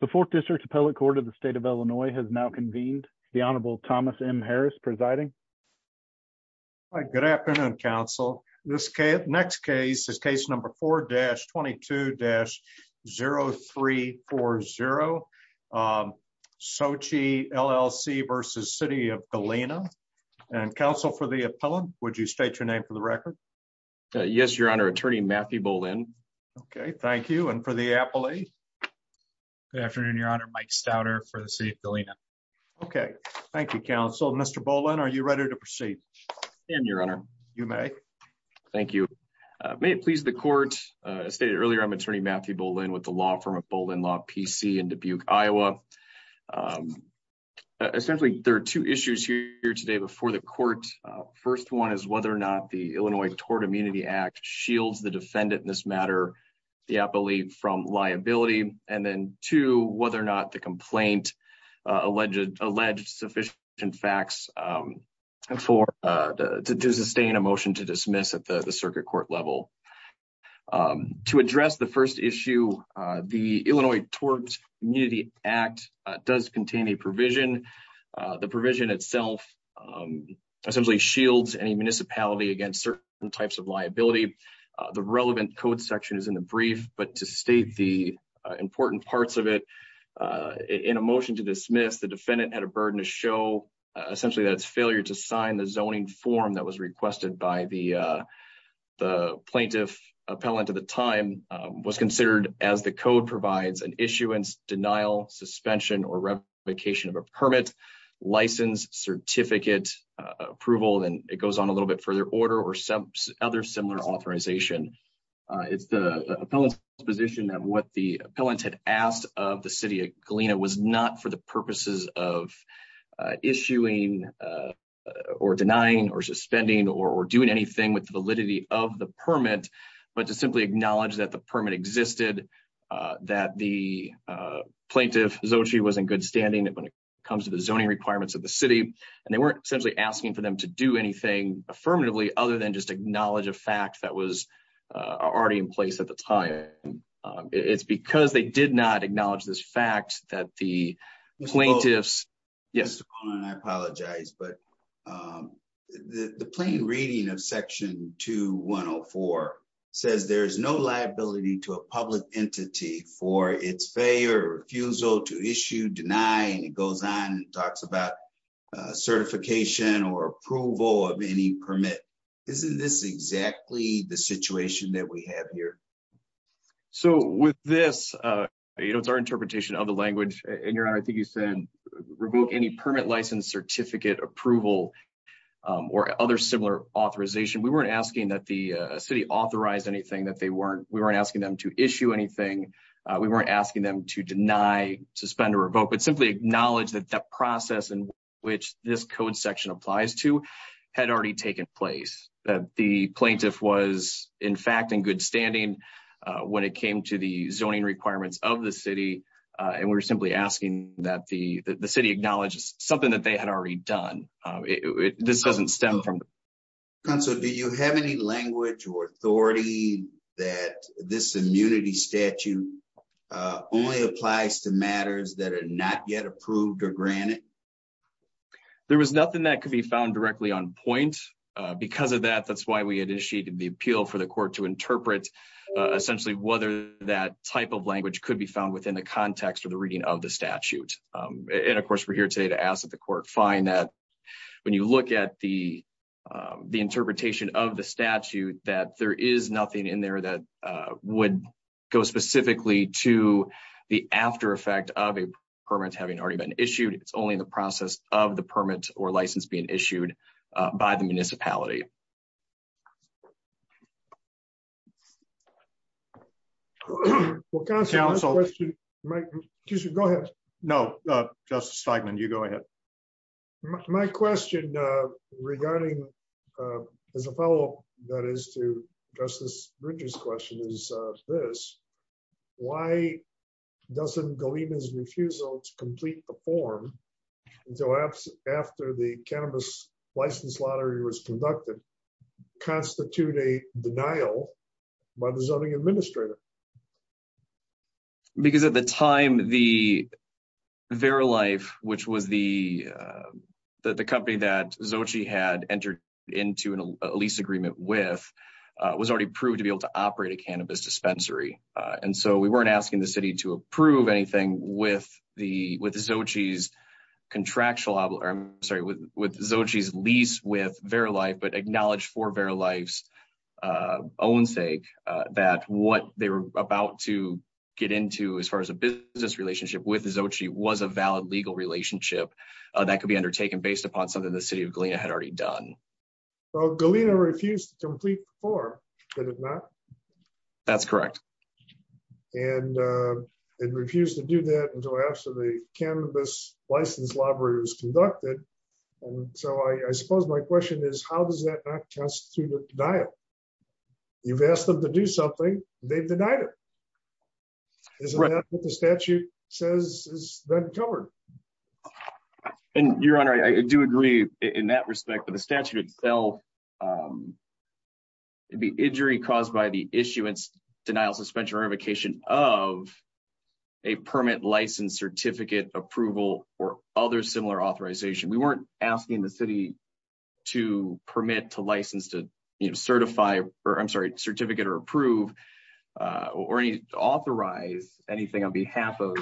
The 4th District Appellate Court of the State of Illinois has now convened. The Honorable Thomas M. Harris presiding. Good afternoon, counsel. This next case is case number 4-22-0340. Xochi, LLC v. City of Galena. And counsel for the appellant, would you state your name for the record? Yes, Your Honor. Attorney Matthew Bolin. Okay. Thank you. And for the appellate? Good afternoon, Your Honor. Mike Stauder for the City of Galena. Okay. Thank you, counsel. Mr. Bolin, are you ready to proceed? I am, Your Honor. You may. Thank you. May it please the Court, as stated earlier, I'm Attorney Matthew Bolin with the law firm of Bolin Law, P.C. in Dubuque, Iowa. Essentially, there are two issues here today before the Court. First one is whether or not the Illinois Tort Immunity Act shields the defendant in this matter, the appellee, from liability. And then two, whether or not the complaint alleged sufficient facts to sustain a motion to dismiss at the circuit court level. To address the first issue, the Illinois Tort Immunity Act does contain a provision. The provision itself essentially shields any municipality against certain types of liability. The relevant code section is in the brief, but to state the important parts of it, in a motion to dismiss, the defendant had a burden to show essentially that its failure to sign the zoning form that was requested by the plaintiff appellant at the time was considered, as the code provides, an issuance, denial, suspension, or revocation of a permit, license, certificate, approval, and it goes on a little bit further, order, or some other similar authorization. It's the appellant's position that what the appellant had asked of the city of Galena was not for the purposes of issuing or denying or suspending or doing anything with the validity of the permit, but to simply acknowledge that the permit existed, that the plaintiff, Xochitl, was in good standing when it comes to the zoning requirements of the city, and they weren't essentially asking for them to do anything affirmatively other than just acknowledge a fact that was already in place at the time. It's because they did not acknowledge this fact that the plaintiffs... Mr. Cohn, I apologize, but the plain reading of section 2104 says there is no liability to a public entity for its failure or refusal to issue, deny, and it goes on and talks about certification or approval of any permit. Isn't this exactly the situation that we have here? So, with this, it's our interpretation of the language, and, Your Honor, I think you said revoke any permit, license, certificate, approval, or other similar authorization. We weren't asking that the city authorize anything. We weren't asking them to issue anything. We weren't asking them to deny, suspend, or revoke, but simply acknowledge that that process in which this code section applies to had already taken place, that the plaintiff was, in fact, in good standing when it came to the zoning requirements of the city, and we're simply asking that the city acknowledge something that they had already done. This doesn't stem from... Counsel, do you have any language or authority that this immunity statute only applies to matters that are not yet approved or granted? There was nothing that could be found directly on point. Because of that, that's why we initiated the appeal for the court to interpret, essentially, whether that type of language could be found within the context of the reading of the statute. And, of course, we're here today to ask that the court find that when you look at the interpretation of the statute, that there is nothing in there that would go specifically to the after effect of a permit having already been issued. It's only in the process of the permit or license being issued by the municipality. Counsel, go ahead. No, Justice Feigman, you go ahead. My question regarding, as a follow up, that is to Justice Bridges' question is this. Why doesn't Golima's refusal to complete the form after the cannabis license lottery was conducted constitute a denial by the zoning administrator? Because at the time, the Verilife, which was the company that Xochitl had entered into a lease agreement with, was already proved to be able to operate a cannabis dispensary. And so we weren't asking the city to approve anything with Xochitl's lease with Verilife, but acknowledged for Verilife's own sake that what they were about to get into as far as a business relationship with Xochitl was a valid legal relationship that could be undertaken based upon something the city of Golima had already done. Well, Golima refused to complete the form, did it not? That's correct. And it refused to do that until after the cannabis license lottery was conducted. So I suppose my question is, how does that not constitute a denial? You've asked them to do something, they've denied it. Isn't that what the statute says is then covered? Your Honor, I do agree in that respect. The statute itself would be injury caused by the issuance, denial, suspension, or revocation of a permit, license, certificate, approval, or other similar authorization. We weren't asking the city to permit, to license, to certify, or I'm sorry, certificate or approve or authorize anything on behalf of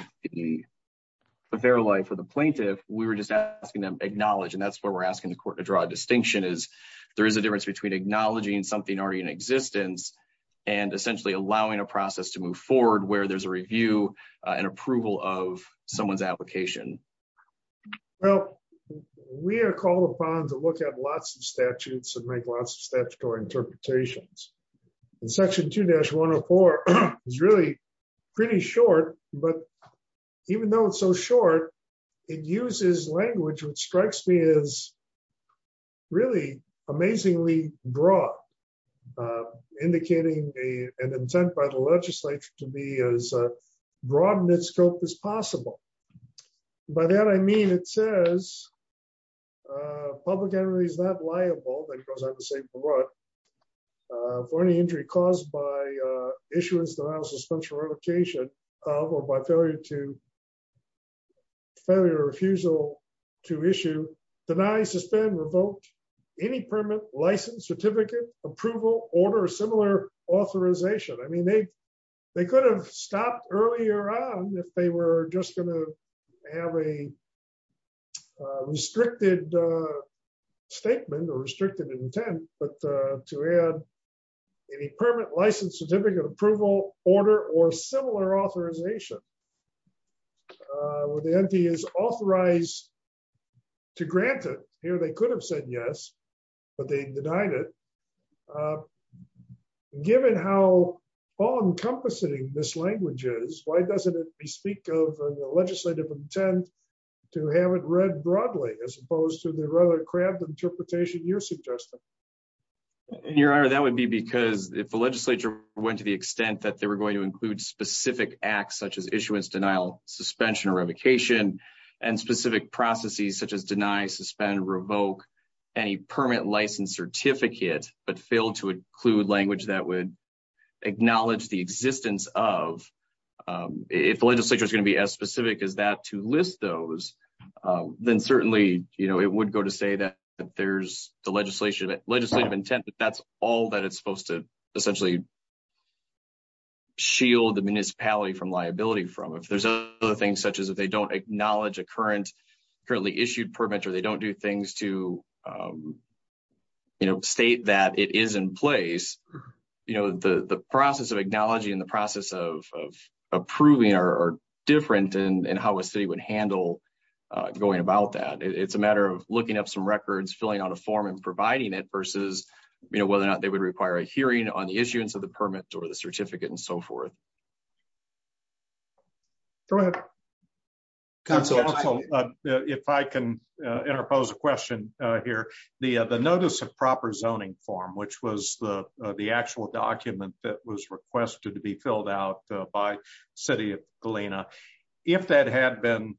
Verilife or the plaintiff. We were just asking them to acknowledge, and that's where we're asking the court to draw a distinction, is there is a difference between acknowledging something already in existence and essentially allowing a process to move forward where there's a review and approval of someone's application. Well, we are called upon to look at lots of statutes and make lots of statutory interpretations. Section 2-104 is really pretty short, but even though it's so short, it uses language which strikes me as really amazingly broad, indicating an intent by the legislature to be as broad in its scope as possible. By that I mean it says, public entity is not liable, then it goes on to say for what, for any injury caused by issuance, denial, suspension, or revocation of, or by failure or refusal to issue, deny, suspend, revoke, any permit, license, certificate, approval, order, or similar authorization. I mean, they could have stopped earlier on if they were just going to have a restricted statement or restricted intent, but to add any permit, license, certificate, approval, order, or similar authorization. Where the entity is authorized to grant it, here they could have said yes, but they denied it. Given how all-encompassing this language is, why doesn't it bespeak of a legislative intent to have it read broadly, as opposed to the rather cramped interpretation you're suggesting? Your Honor, that would be because if the legislature went to the extent that they were going to include specific acts such as issuance, denial, suspension, or revocation, and specific processes such as deny, suspend, revoke, any permit, license, certificate, but failed to include language that would acknowledge the existence of, if the legislature is going to be as specific as that to list those, then certainly it would go to say that there's the legislative intent, but that's all that it's supposed to essentially shield the municipality from liability from. If there's other things such as if they don't acknowledge a currently issued permit or they don't do things to state that it is in place, the process of acknowledging and the process of approving are different in how a city would handle going about that. It's a matter of looking up some records, filling out a form, and providing it, versus whether or not they would require a hearing on the issuance of the permit or the certificate and so forth. Go ahead. If I can interpose a question here. The notice of proper zoning form, which was the actual document that was requested to be filled out by City of Galena, if that had been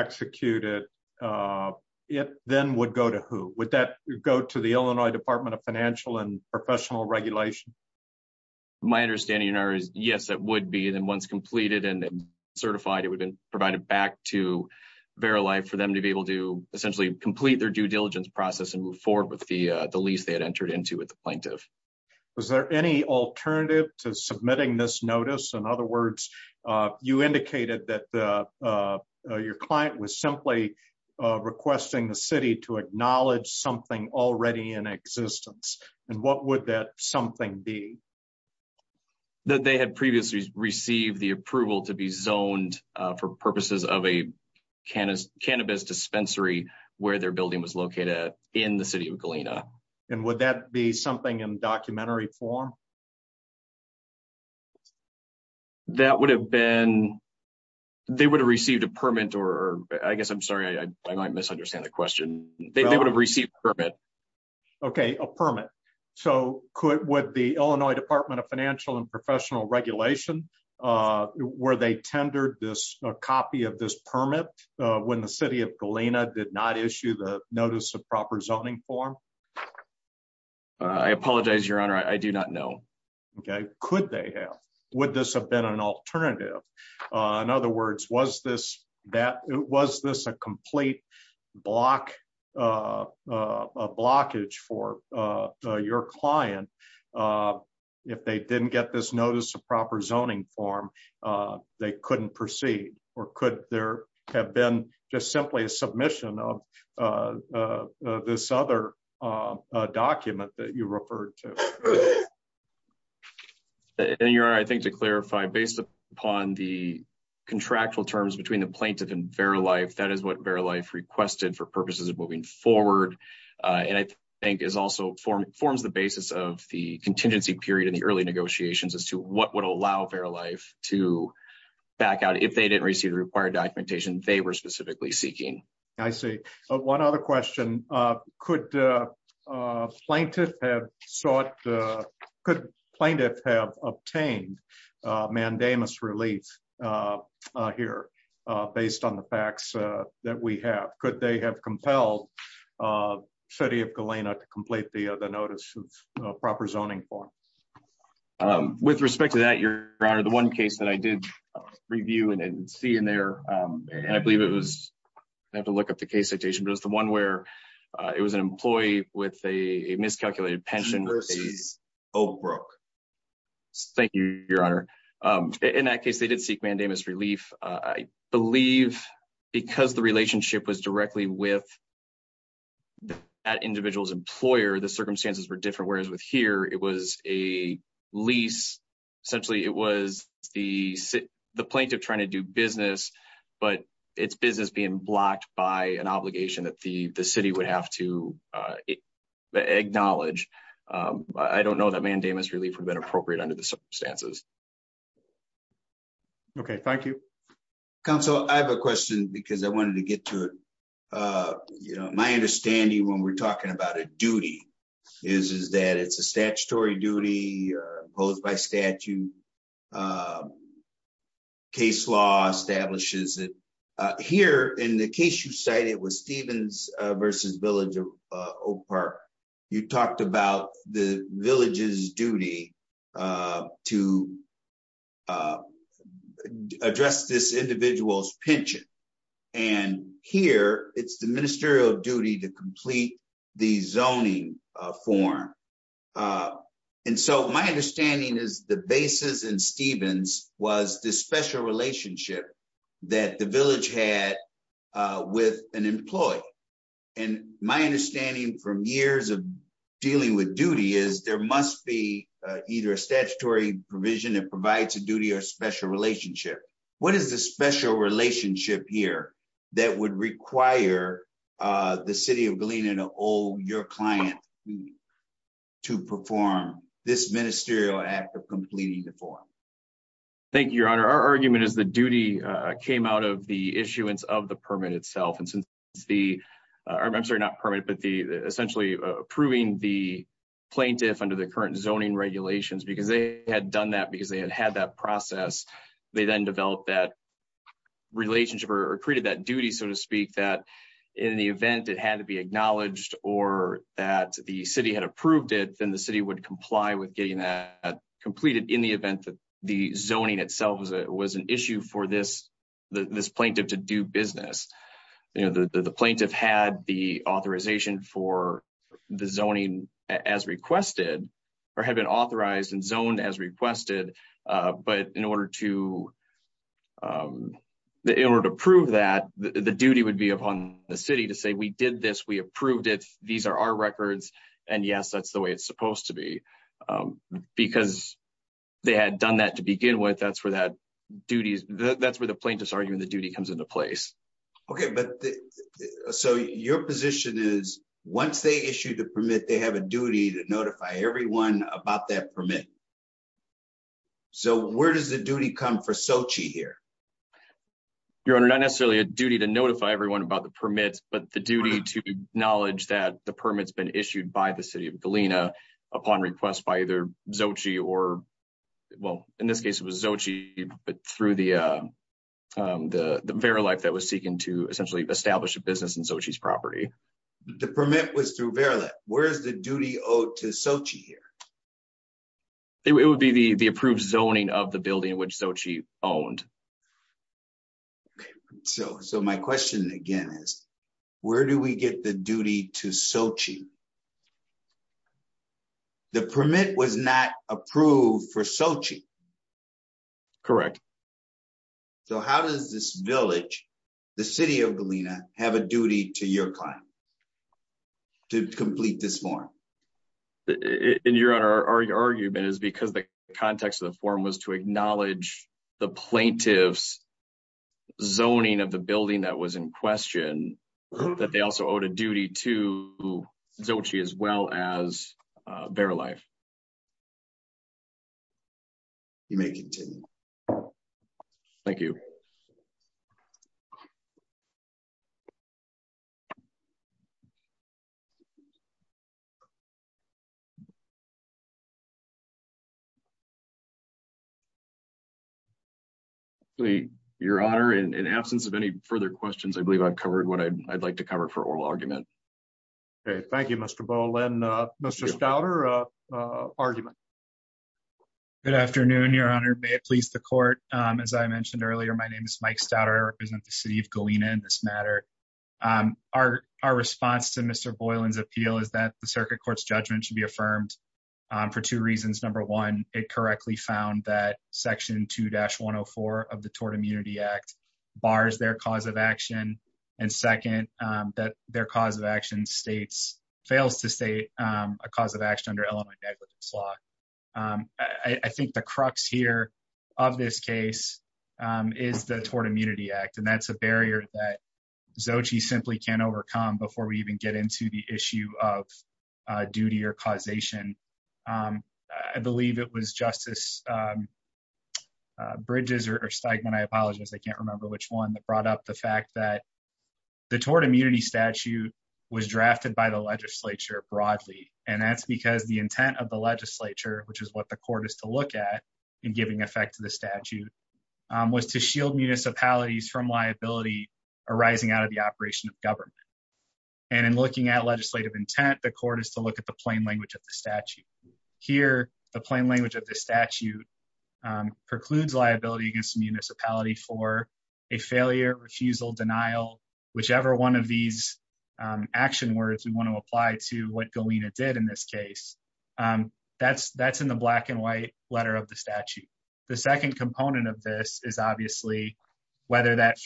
executed, it then would go to who? Would that go to the Illinois Department of Financial and Professional Regulation? My understanding is yes, it would be. Then once completed and certified, it would be provided back to Verilife for them to be able to essentially complete their due diligence process and move forward with the lease they had entered into with the plaintiff. Was there any alternative to submitting this notice? In other words, you indicated that your client was simply requesting the city to acknowledge something already in existence. What would that something be? That they had previously received the approval to be zoned for purposes of a cannabis dispensary where their building was located in the City of Galena. Would that be something in documentary form? That would have been... They would have received a permit or... I guess I'm sorry, I might misunderstand the question. They would have received a permit. Okay, a permit. So, would the Illinois Department of Financial and Professional Regulation... Were they tendered a copy of this permit when the City of Galena did not issue the notice of proper zoning form? I apologize, Your Honor, I do not know. Could they have? Would this have been an alternative? In other words, was this a complete blockage for your client? If they didn't get this notice of proper zoning form, they couldn't proceed? Or could there have been just simply a submission of this other document that you referred to? Your Honor, I think to clarify, based upon the contractual terms between the plaintiff and Verilife, that is what Verilife requested for purposes of moving forward. And I think it also forms the basis of the contingency period in the early negotiations as to what would allow Verilife to back out if they didn't receive the required documentation they were specifically seeking. I see. One other question. Could plaintiff have sought... Could plaintiff have obtained mandamus relief here based on the facts that we have? Could they have compelled City of Galena to complete the notice of proper zoning form? With respect to that, Your Honor, the one case that I did review and see in there, and I believe it was... I have to look up the case citation, but it was the one where it was an employee with a miscalculated pension. He versus Oak Brook. Thank you, Your Honor. In that case, they did seek mandamus relief. I believe because the relationship was directly with that individual's employer, the circumstances were different, whereas with here, it was a lease. Essentially, it was the plaintiff trying to do business, but it's business being blocked by an obligation that the city would have to acknowledge. I don't know that mandamus relief would have been appropriate under the circumstances. Okay, thank you. Counsel, I have a question because I wanted to get to it. My understanding when we're talking about a duty is that it's a statutory duty imposed by statute. Case law establishes it. Here, in the case you cited, it was Stevens versus Village Oak Park. You talked about the village's duty to address this individual's pension. Here, it's the ministerial duty to complete the zoning form. My understanding is the basis in Stevens was the special relationship that the village had with an employee. My understanding from years of dealing with duty is there must be either a statutory provision that provides a duty or special relationship. What is the special relationship here that would require the City of Galena to owe your client to perform this ministerial act of completing the form? Thank you, Your Honor. Our argument is the duty came out of the issuance of the permit itself. I'm sorry, not permit, but essentially approving the plaintiff under the current zoning regulations because they had done that because they had had that process. They then developed that relationship or created that duty, so to speak, that in the event it had to be acknowledged or that the city had approved it, then the city would comply with getting that completed in the event that the zoning itself was an issue for this plaintiff to do business. The plaintiff had the authorization for the zoning as requested or had been authorized and zoned as requested, but in order to prove that, the duty would be upon the city to say, we did this, we approved it, these are our records, and yes, that's the way it's supposed to be. Because they had done that to begin with, that's where the plaintiff's argument, the duty comes into place. Okay, but so your position is once they issue the permit, they have a duty to notify everyone about that permit. So where does the duty come for Xochitl here? Your Honor, not necessarily a duty to notify everyone about the permits, but the duty to acknowledge that the permit's been issued by the city of Galena upon request by either Xochitl or, well, in this case it was Xochitl, but through the Verilife that was seeking to essentially establish a business in Xochitl's property. The permit was through Verilife. Where is the duty owed to Xochitl here? It would be the approved zoning of the building which Xochitl owned. So my question again is, where do we get the duty to Xochitl? The permit was not approved for Xochitl. Correct. So how does this village, the city of Galena, have a duty to your client to complete this form? Your Honor, our argument is because the context of the form was to acknowledge the plaintiff's zoning of the building that was in question, that they also owed a duty to Xochitl as well as Verilife. You may continue. Thank you. Thank you. Your Honor, in absence of any further questions, I believe I've covered what I'd like to cover for oral argument. Okay, thank you, Mr. Boylan. Mr. Staudter, argument. Good afternoon, Your Honor. May it please the court. As I mentioned earlier, my name is Mike Staudter. I represent the city of Galena in this matter. Our response to Mr. Boylan's appeal is that the circuit court's judgment should be affirmed for two reasons. Number one, it correctly found that section 2-104 of the Tort Immunity Act bars their cause of action. And second, that their cause of action fails to state a cause of action under Illinois negligence law. I think the crux here of this case is the Tort Immunity Act. And that's a barrier that Xochitl simply can't overcome before we even get into the issue of duty or causation. I believe it was Justice Bridges or Steigman, I apologize, I can't remember which one, that brought up the fact that the Tort Immunity Statute was drafted by the legislature broadly. And that's because the intent of the legislature, which is what the court is to look at in giving effect to the statute, was to shield municipalities from liability arising out of the operation of government. And in looking at legislative intent, the court is to look at the plain language of the statute. Here, the plain language of the statute precludes liability against the municipality for a failure, refusal, denial, whichever one of these action words we want to apply to what Galena did in this case. That's in the black and white letter of the statute. The second component of this is obviously whether that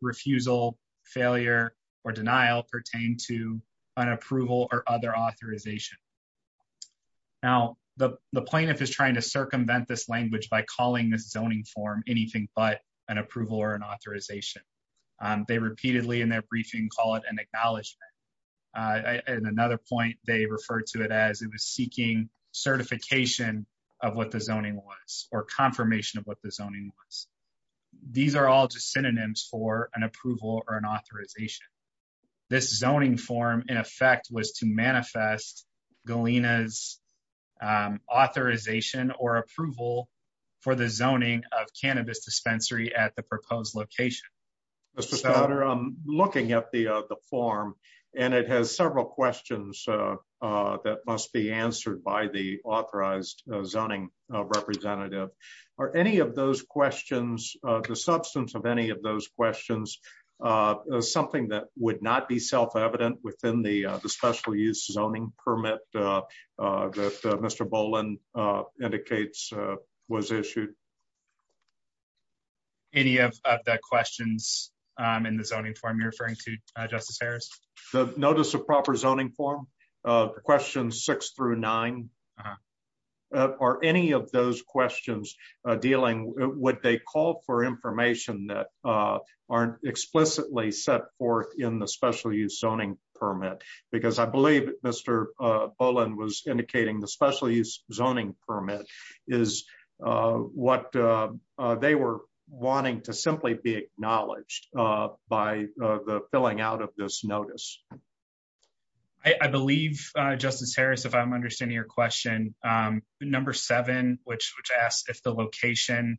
refusal, failure, or denial pertain to an approval or other authorization. Now, the plaintiff is trying to circumvent this language by calling this zoning form anything but an approval or an authorization. They repeatedly in their briefing call it an acknowledgment. In another point, they refer to it as it was seeking certification of what the zoning was or confirmation of what the zoning was. These are all just synonyms for an approval or an authorization. This zoning form, in effect, was to manifest Galena's authorization or approval for the zoning of cannabis dispensary at the proposed location. Mr. Spaulder, I'm looking at the form, and it has several questions that must be answered by the authorized zoning representative. Are any of those questions, the substance of any of those questions, something that would not be self-evident within the special use zoning permit that Mr. Boland indicates was issued? Any of the questions in the zoning form you're referring to, Justice Harris? The notice of proper zoning form, questions six through nine, are any of those questions dealing with what they call for information that aren't explicitly set forth in the special use zoning permit? Because I believe Mr. Boland was indicating the special use zoning permit is what they were wanting to simply be acknowledged by the filling out of this notice. I believe, Justice Harris, if I'm understanding your question, number seven, which asks if the location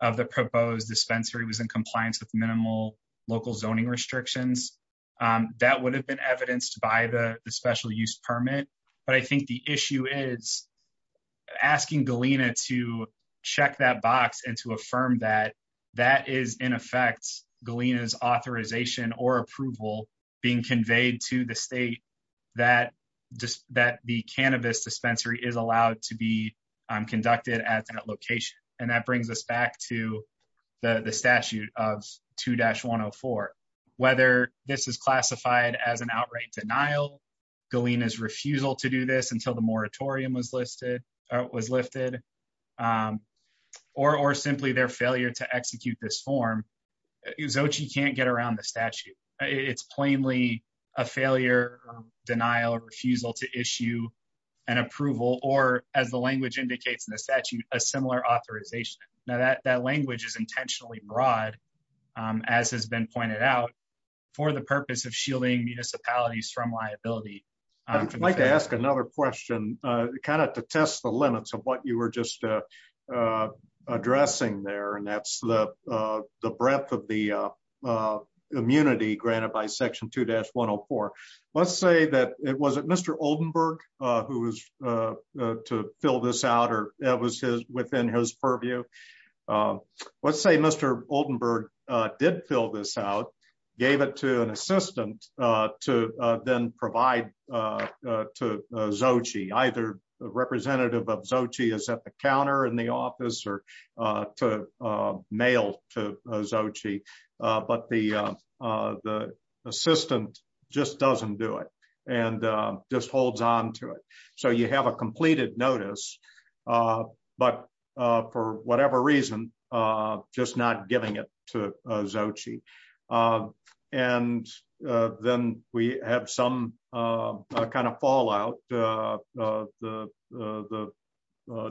of the proposed dispensary was in compliance with minimal local zoning restrictions, that would have been evidenced by the special use permit. But I think the issue is asking Galena to check that box and to affirm that that is, in effect, Galena's authorization or approval being conveyed to the state that the cannabis dispensary is allowed to be conducted at that location. And that brings us back to the statute of 2-104. Whether this is classified as an outright denial, Galena's refusal to do this until the moratorium was lifted, or simply their failure to execute this form, Xochitl can't get around the statute. It's plainly a failure, denial, refusal to issue an approval, or as the language indicates in the statute, a similar authorization. Now that language is intentionally broad, as has been pointed out, for the purpose of shielding municipalities from liability. I'd like to ask another question, kind of to test the limits of what you were just addressing there, and that's the breadth of the immunity granted by Section 2-104. Let's say that, was it Mr. Oldenburg who was to fill this out, or that was within his purview? Let's say Mr. Oldenburg did fill this out, gave it to an assistant to then provide to Xochitl, either representative of Xochitl is at the counter in the office or to mail to Xochitl, but the assistant just doesn't do it and just holds on to it. So you have a completed notice, but for whatever reason, just not giving it to Xochitl. And then we have some kind of fallout. The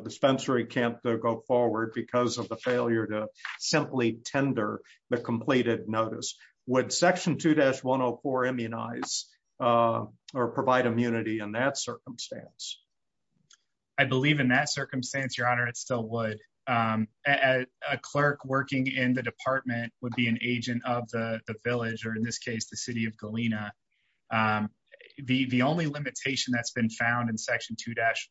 dispensary can't go forward because of the failure to simply tender the completed notice. Would Section 2-104 immunize or provide immunity in that circumstance? I believe in that circumstance, Your Honor, it still would. A clerk working in the department would be an agent of the village, or in this case, the city of Galena. The only limitation that's been found in Section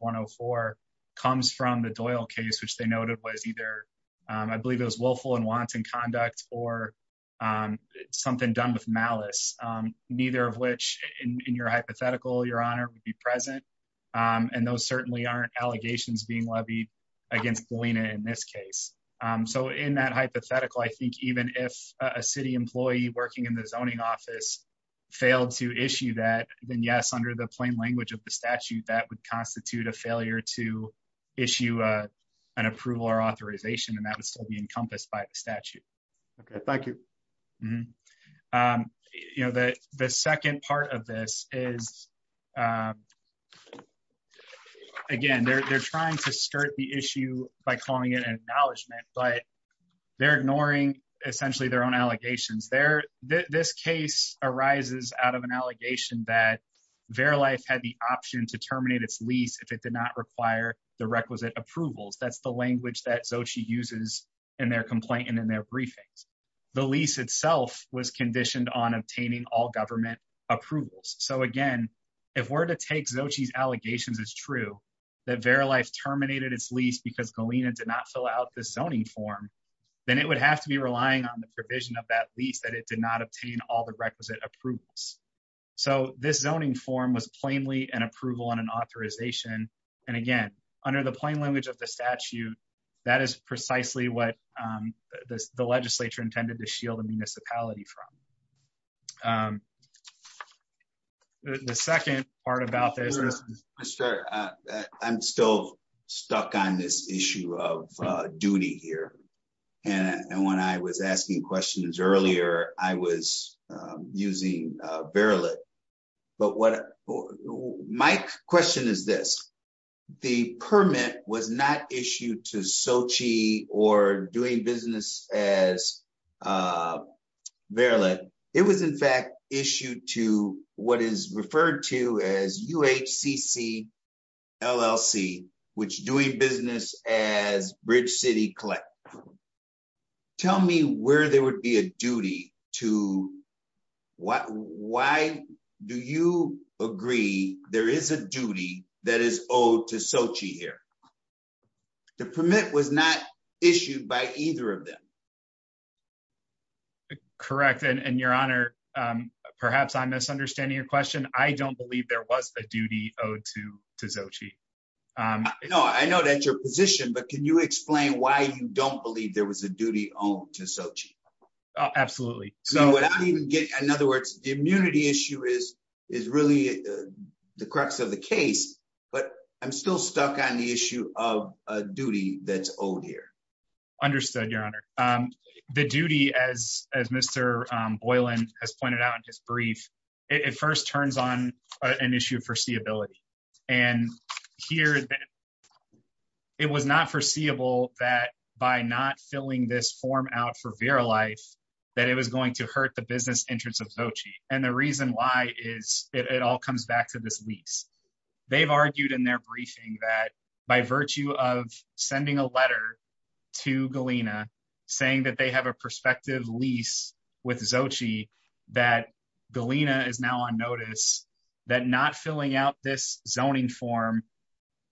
2-104 comes from the Doyle case, which they noted was either, I believe it was willful and wanton conduct or something done with malice, neither of which, in your hypothetical, Your Honor, would be present. And those certainly aren't allegations being levied against Galena in this case. So in that hypothetical, I think even if a city employee working in the zoning office failed to issue that, then yes, under the plain language of the statute, that would constitute a failure to issue an approval or authorization, and that would still be encompassed by the statute. Thank you. The lease itself was conditioned on obtaining all government approvals. So again, if we're to take Xochitl's allegations as true, that Verilife terminated its lease because Galena did not fill out the zoning form, then it would have to be relying on the provision of that lease that it did not obtain all the requisite approvals. So this zoning form was plainly an approval and an authorization. And again, under the plain language of the statute, that is precisely what the legislature intended to shield the municipality from. The second part about this is... I'm still stuck on this issue of duty here. And when I was asking questions earlier, I was using Verilite. My question is this. The permit was not issued to Xochitl or doing business as Verilite. It was in fact issued to what is referred to as UHCC LLC, which is doing business as Bridge City Collective. Tell me where there would be a duty to... Why do you agree there is a duty that is owed to Xochitl here? The permit was not issued by either of them. Correct. And Your Honor, perhaps I'm misunderstanding your question. I don't believe there was a duty owed to Xochitl. I know that's your position, but can you explain why you don't believe there was a duty owed to Xochitl? Absolutely. In other words, the immunity issue is really the crux of the case, but I'm still stuck on the issue of a duty that's owed here. Understood, Your Honor. The duty, as Mr. Boylan has pointed out in his brief, it first turns on an issue of foreseeability. And here, it was not foreseeable that by not filling this form out for Verilite that it was going to hurt the business interests of Xochitl. And the reason why is it all comes back to this lease. They've argued in their briefing that by virtue of sending a letter to Galena saying that they have a prospective lease with Xochitl, that Galena is now on notice, that not filling out this zoning form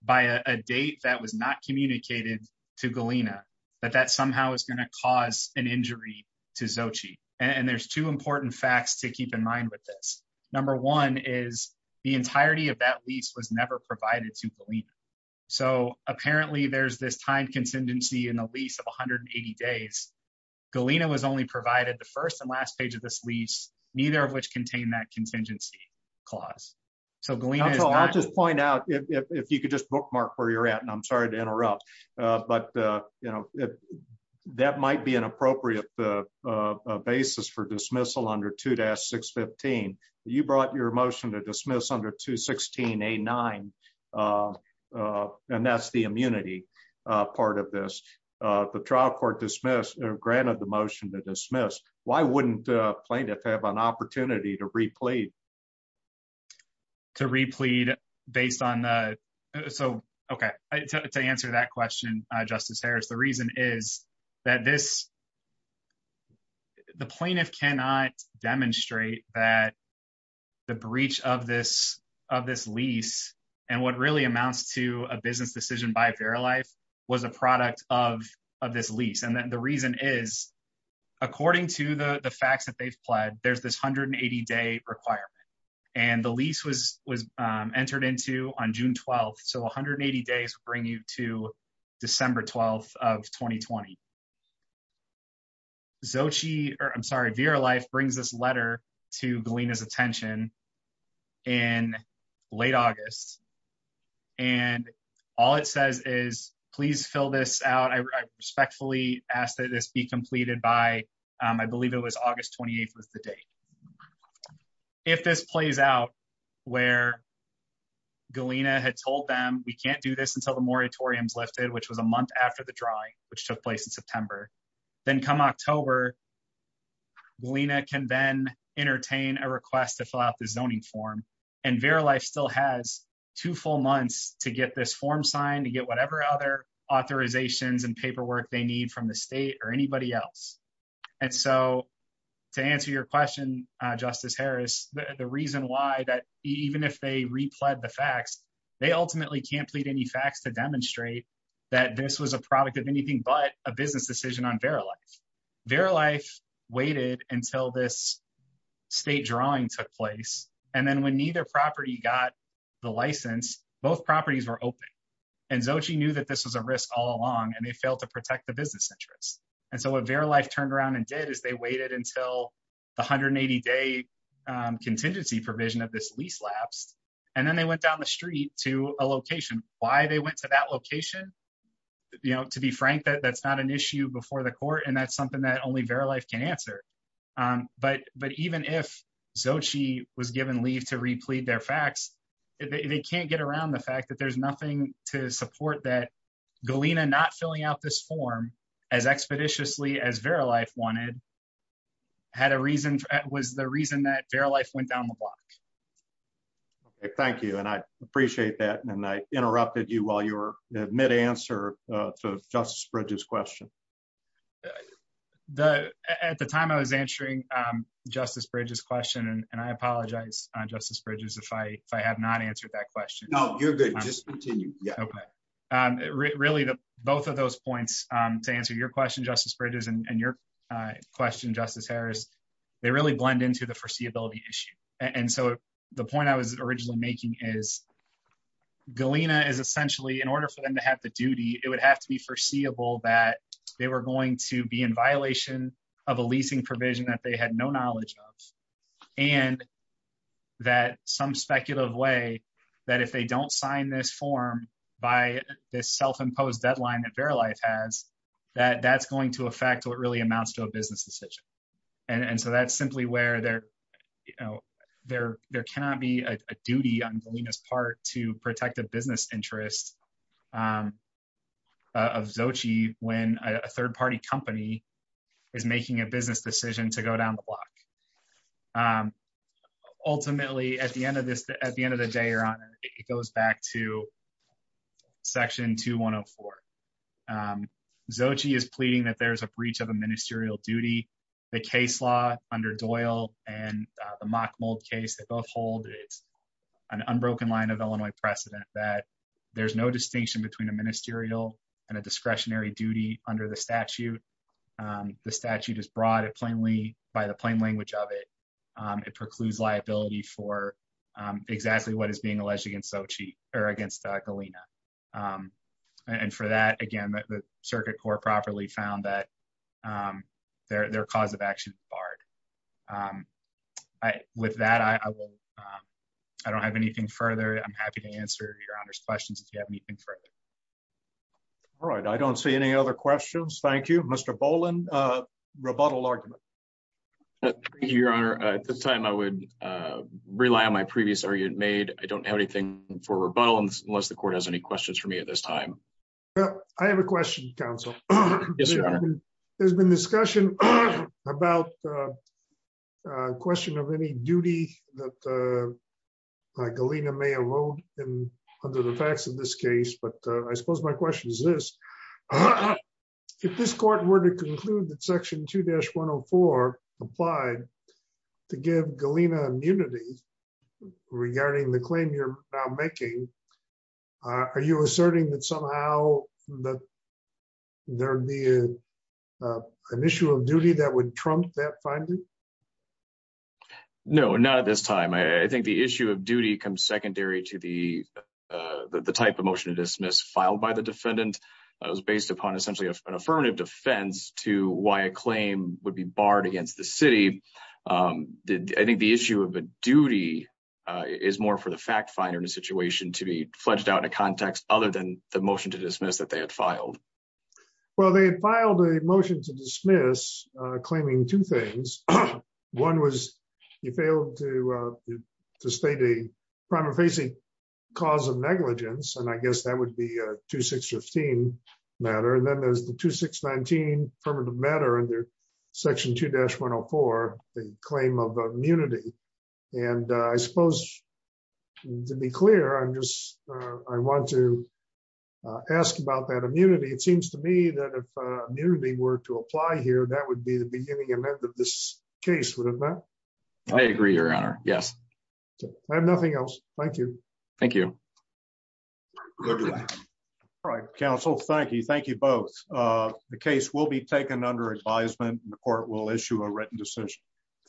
by a date that was not communicated to Galena, that that somehow is going to cause an injury to Xochitl. And there's two important facts to keep in mind with this. Number one is the entirety of that lease was never provided to Galena. So apparently there's this time contingency in the lease of 180 days. Galena was only provided the first and last page of this lease, neither of which contain that contingency clause. I'll just point out, if you could just bookmark where you're at, and I'm sorry to interrupt. But, you know, that might be an appropriate basis for dismissal under 2-615. You brought your motion to dismiss under 216A9, and that's the immunity part of this. The trial court dismissed or granted the motion to dismiss. Why wouldn't a plaintiff have an opportunity to re-plead? To re-plead based on the... So, okay, to answer that question, Justice Harris, the reason is that this... The plaintiff cannot demonstrate that the breach of this lease and what really amounts to a business decision by Verilife was a product of this lease. And the reason is, according to the facts that they've pled, there's this 180-day requirement. And the lease was entered into on June 12th. So, 180 days would bring you to December 12th of 2020. Xochitl, or I'm sorry, Verilife brings this letter to Galena's attention in late August. And all it says is, please fill this out. I respectfully ask that this be completed by, I believe it was August 28th was the date. If this plays out where Galena had told them, we can't do this until the moratorium is lifted, which was a month after the drawing, which took place in September. Then come October, Galena can then entertain a request to fill out the zoning form. And Verilife still has two full months to get this form signed, to get whatever other authorizations and paperwork they need from the state or anybody else. And so, to answer your question, Justice Harris, the reason why that even if they repled the facts, they ultimately can't plead any facts to demonstrate that this was a product of anything but a business decision on Verilife. Verilife waited until this state drawing took place. And then when neither property got the license, both properties were open. And Xochitl knew that this was a risk all along, and they failed to protect the business interests. And so what Verilife turned around and did is they waited until the 180-day contingency provision of this lease lapsed, and then they went down the street to a location. Why they went to that location, to be frank, that's not an issue before the court, and that's something that only Verilife can answer. But even if Xochitl was given leave to replead their facts, they can't get around the fact that there's nothing to support that Galena not filling out this form as expeditiously as Verilife wanted was the reason that Verilife went down the block. Thank you, and I appreciate that, and I interrupted you while you were mid-answer to Justice Bridges' question. At the time I was answering Justice Bridges' question, and I apologize, Justice Bridges, if I have not answered that question. No, you're good. Just continue. Okay. Really, both of those points, to answer your question, Justice Bridges, and your question, Justice Harris, they really blend into the foreseeability issue. The point I was originally making is Galena is essentially, in order for them to have the duty, it would have to be foreseeable that they were going to be in violation of a leasing provision that they had no knowledge of, and that some speculative way that if they don't sign this form by this self-imposed deadline that Verilife has, that that's going to affect what really amounts to a business decision. And so that's simply where there cannot be a duty on Galena's part to protect a business interest of Xochitl when a third-party company is making a business decision to go down the block. Ultimately, at the end of the day, Your Honor, it goes back to Section 2104. Xochitl is pleading that there is a breach of a ministerial duty. The case law under Doyle and the Mockmold case, they both hold an unbroken line of Illinois precedent that there's no distinction between a ministerial and a discretionary duty under the statute. The statute is broad by the plain language of it. It precludes liability for exactly what is being alleged against Xochitl, or against Galena. And for that, again, the Circuit Court properly found that their cause of action is barred. With that, I don't have anything further. I'm happy to answer Your Honor's questions if you have anything further. All right. I don't see any other questions. Thank you. Mr. Boland, rebuttal argument. Thank you, Your Honor. At this time, I would rely on my previous argument made. I don't have anything for rebuttal unless the Court has any questions for me at this time. I have a question, Counsel. Yes, Your Honor. There's been discussion about a question of any duty that Galena may erode under the facts of this case, but I suppose my question is this. If this Court were to conclude that Section 2-104 applied to give Galena immunity regarding the claim you're now making, are you asserting that somehow there'd be an issue of duty that would trump that finding? No, not at this time. I think the issue of duty comes secondary to the type of motion to dismiss filed by the defendant. It was based upon essentially an affirmative defense to why a claim would be barred against the city. I think the issue of a duty is more for the fact finder in a situation to be fledged out in a context other than the motion to dismiss that they had filed. Well, they had filed a motion to dismiss claiming two things. One was you failed to state a prima facie cause of negligence, and I guess that would be a 2615 matter. And then there's the 2619 affirmative matter under Section 2-104, the claim of immunity. And I suppose, to be clear, I want to ask about that immunity. It seems to me that if immunity were to apply here, that would be the beginning and end of this case, wouldn't it? I agree, Your Honor. Yes. I have nothing else. Thank you. Thank you. All right, counsel. Thank you. Thank you both. The case will be taken under advisement and the court will issue a written decision.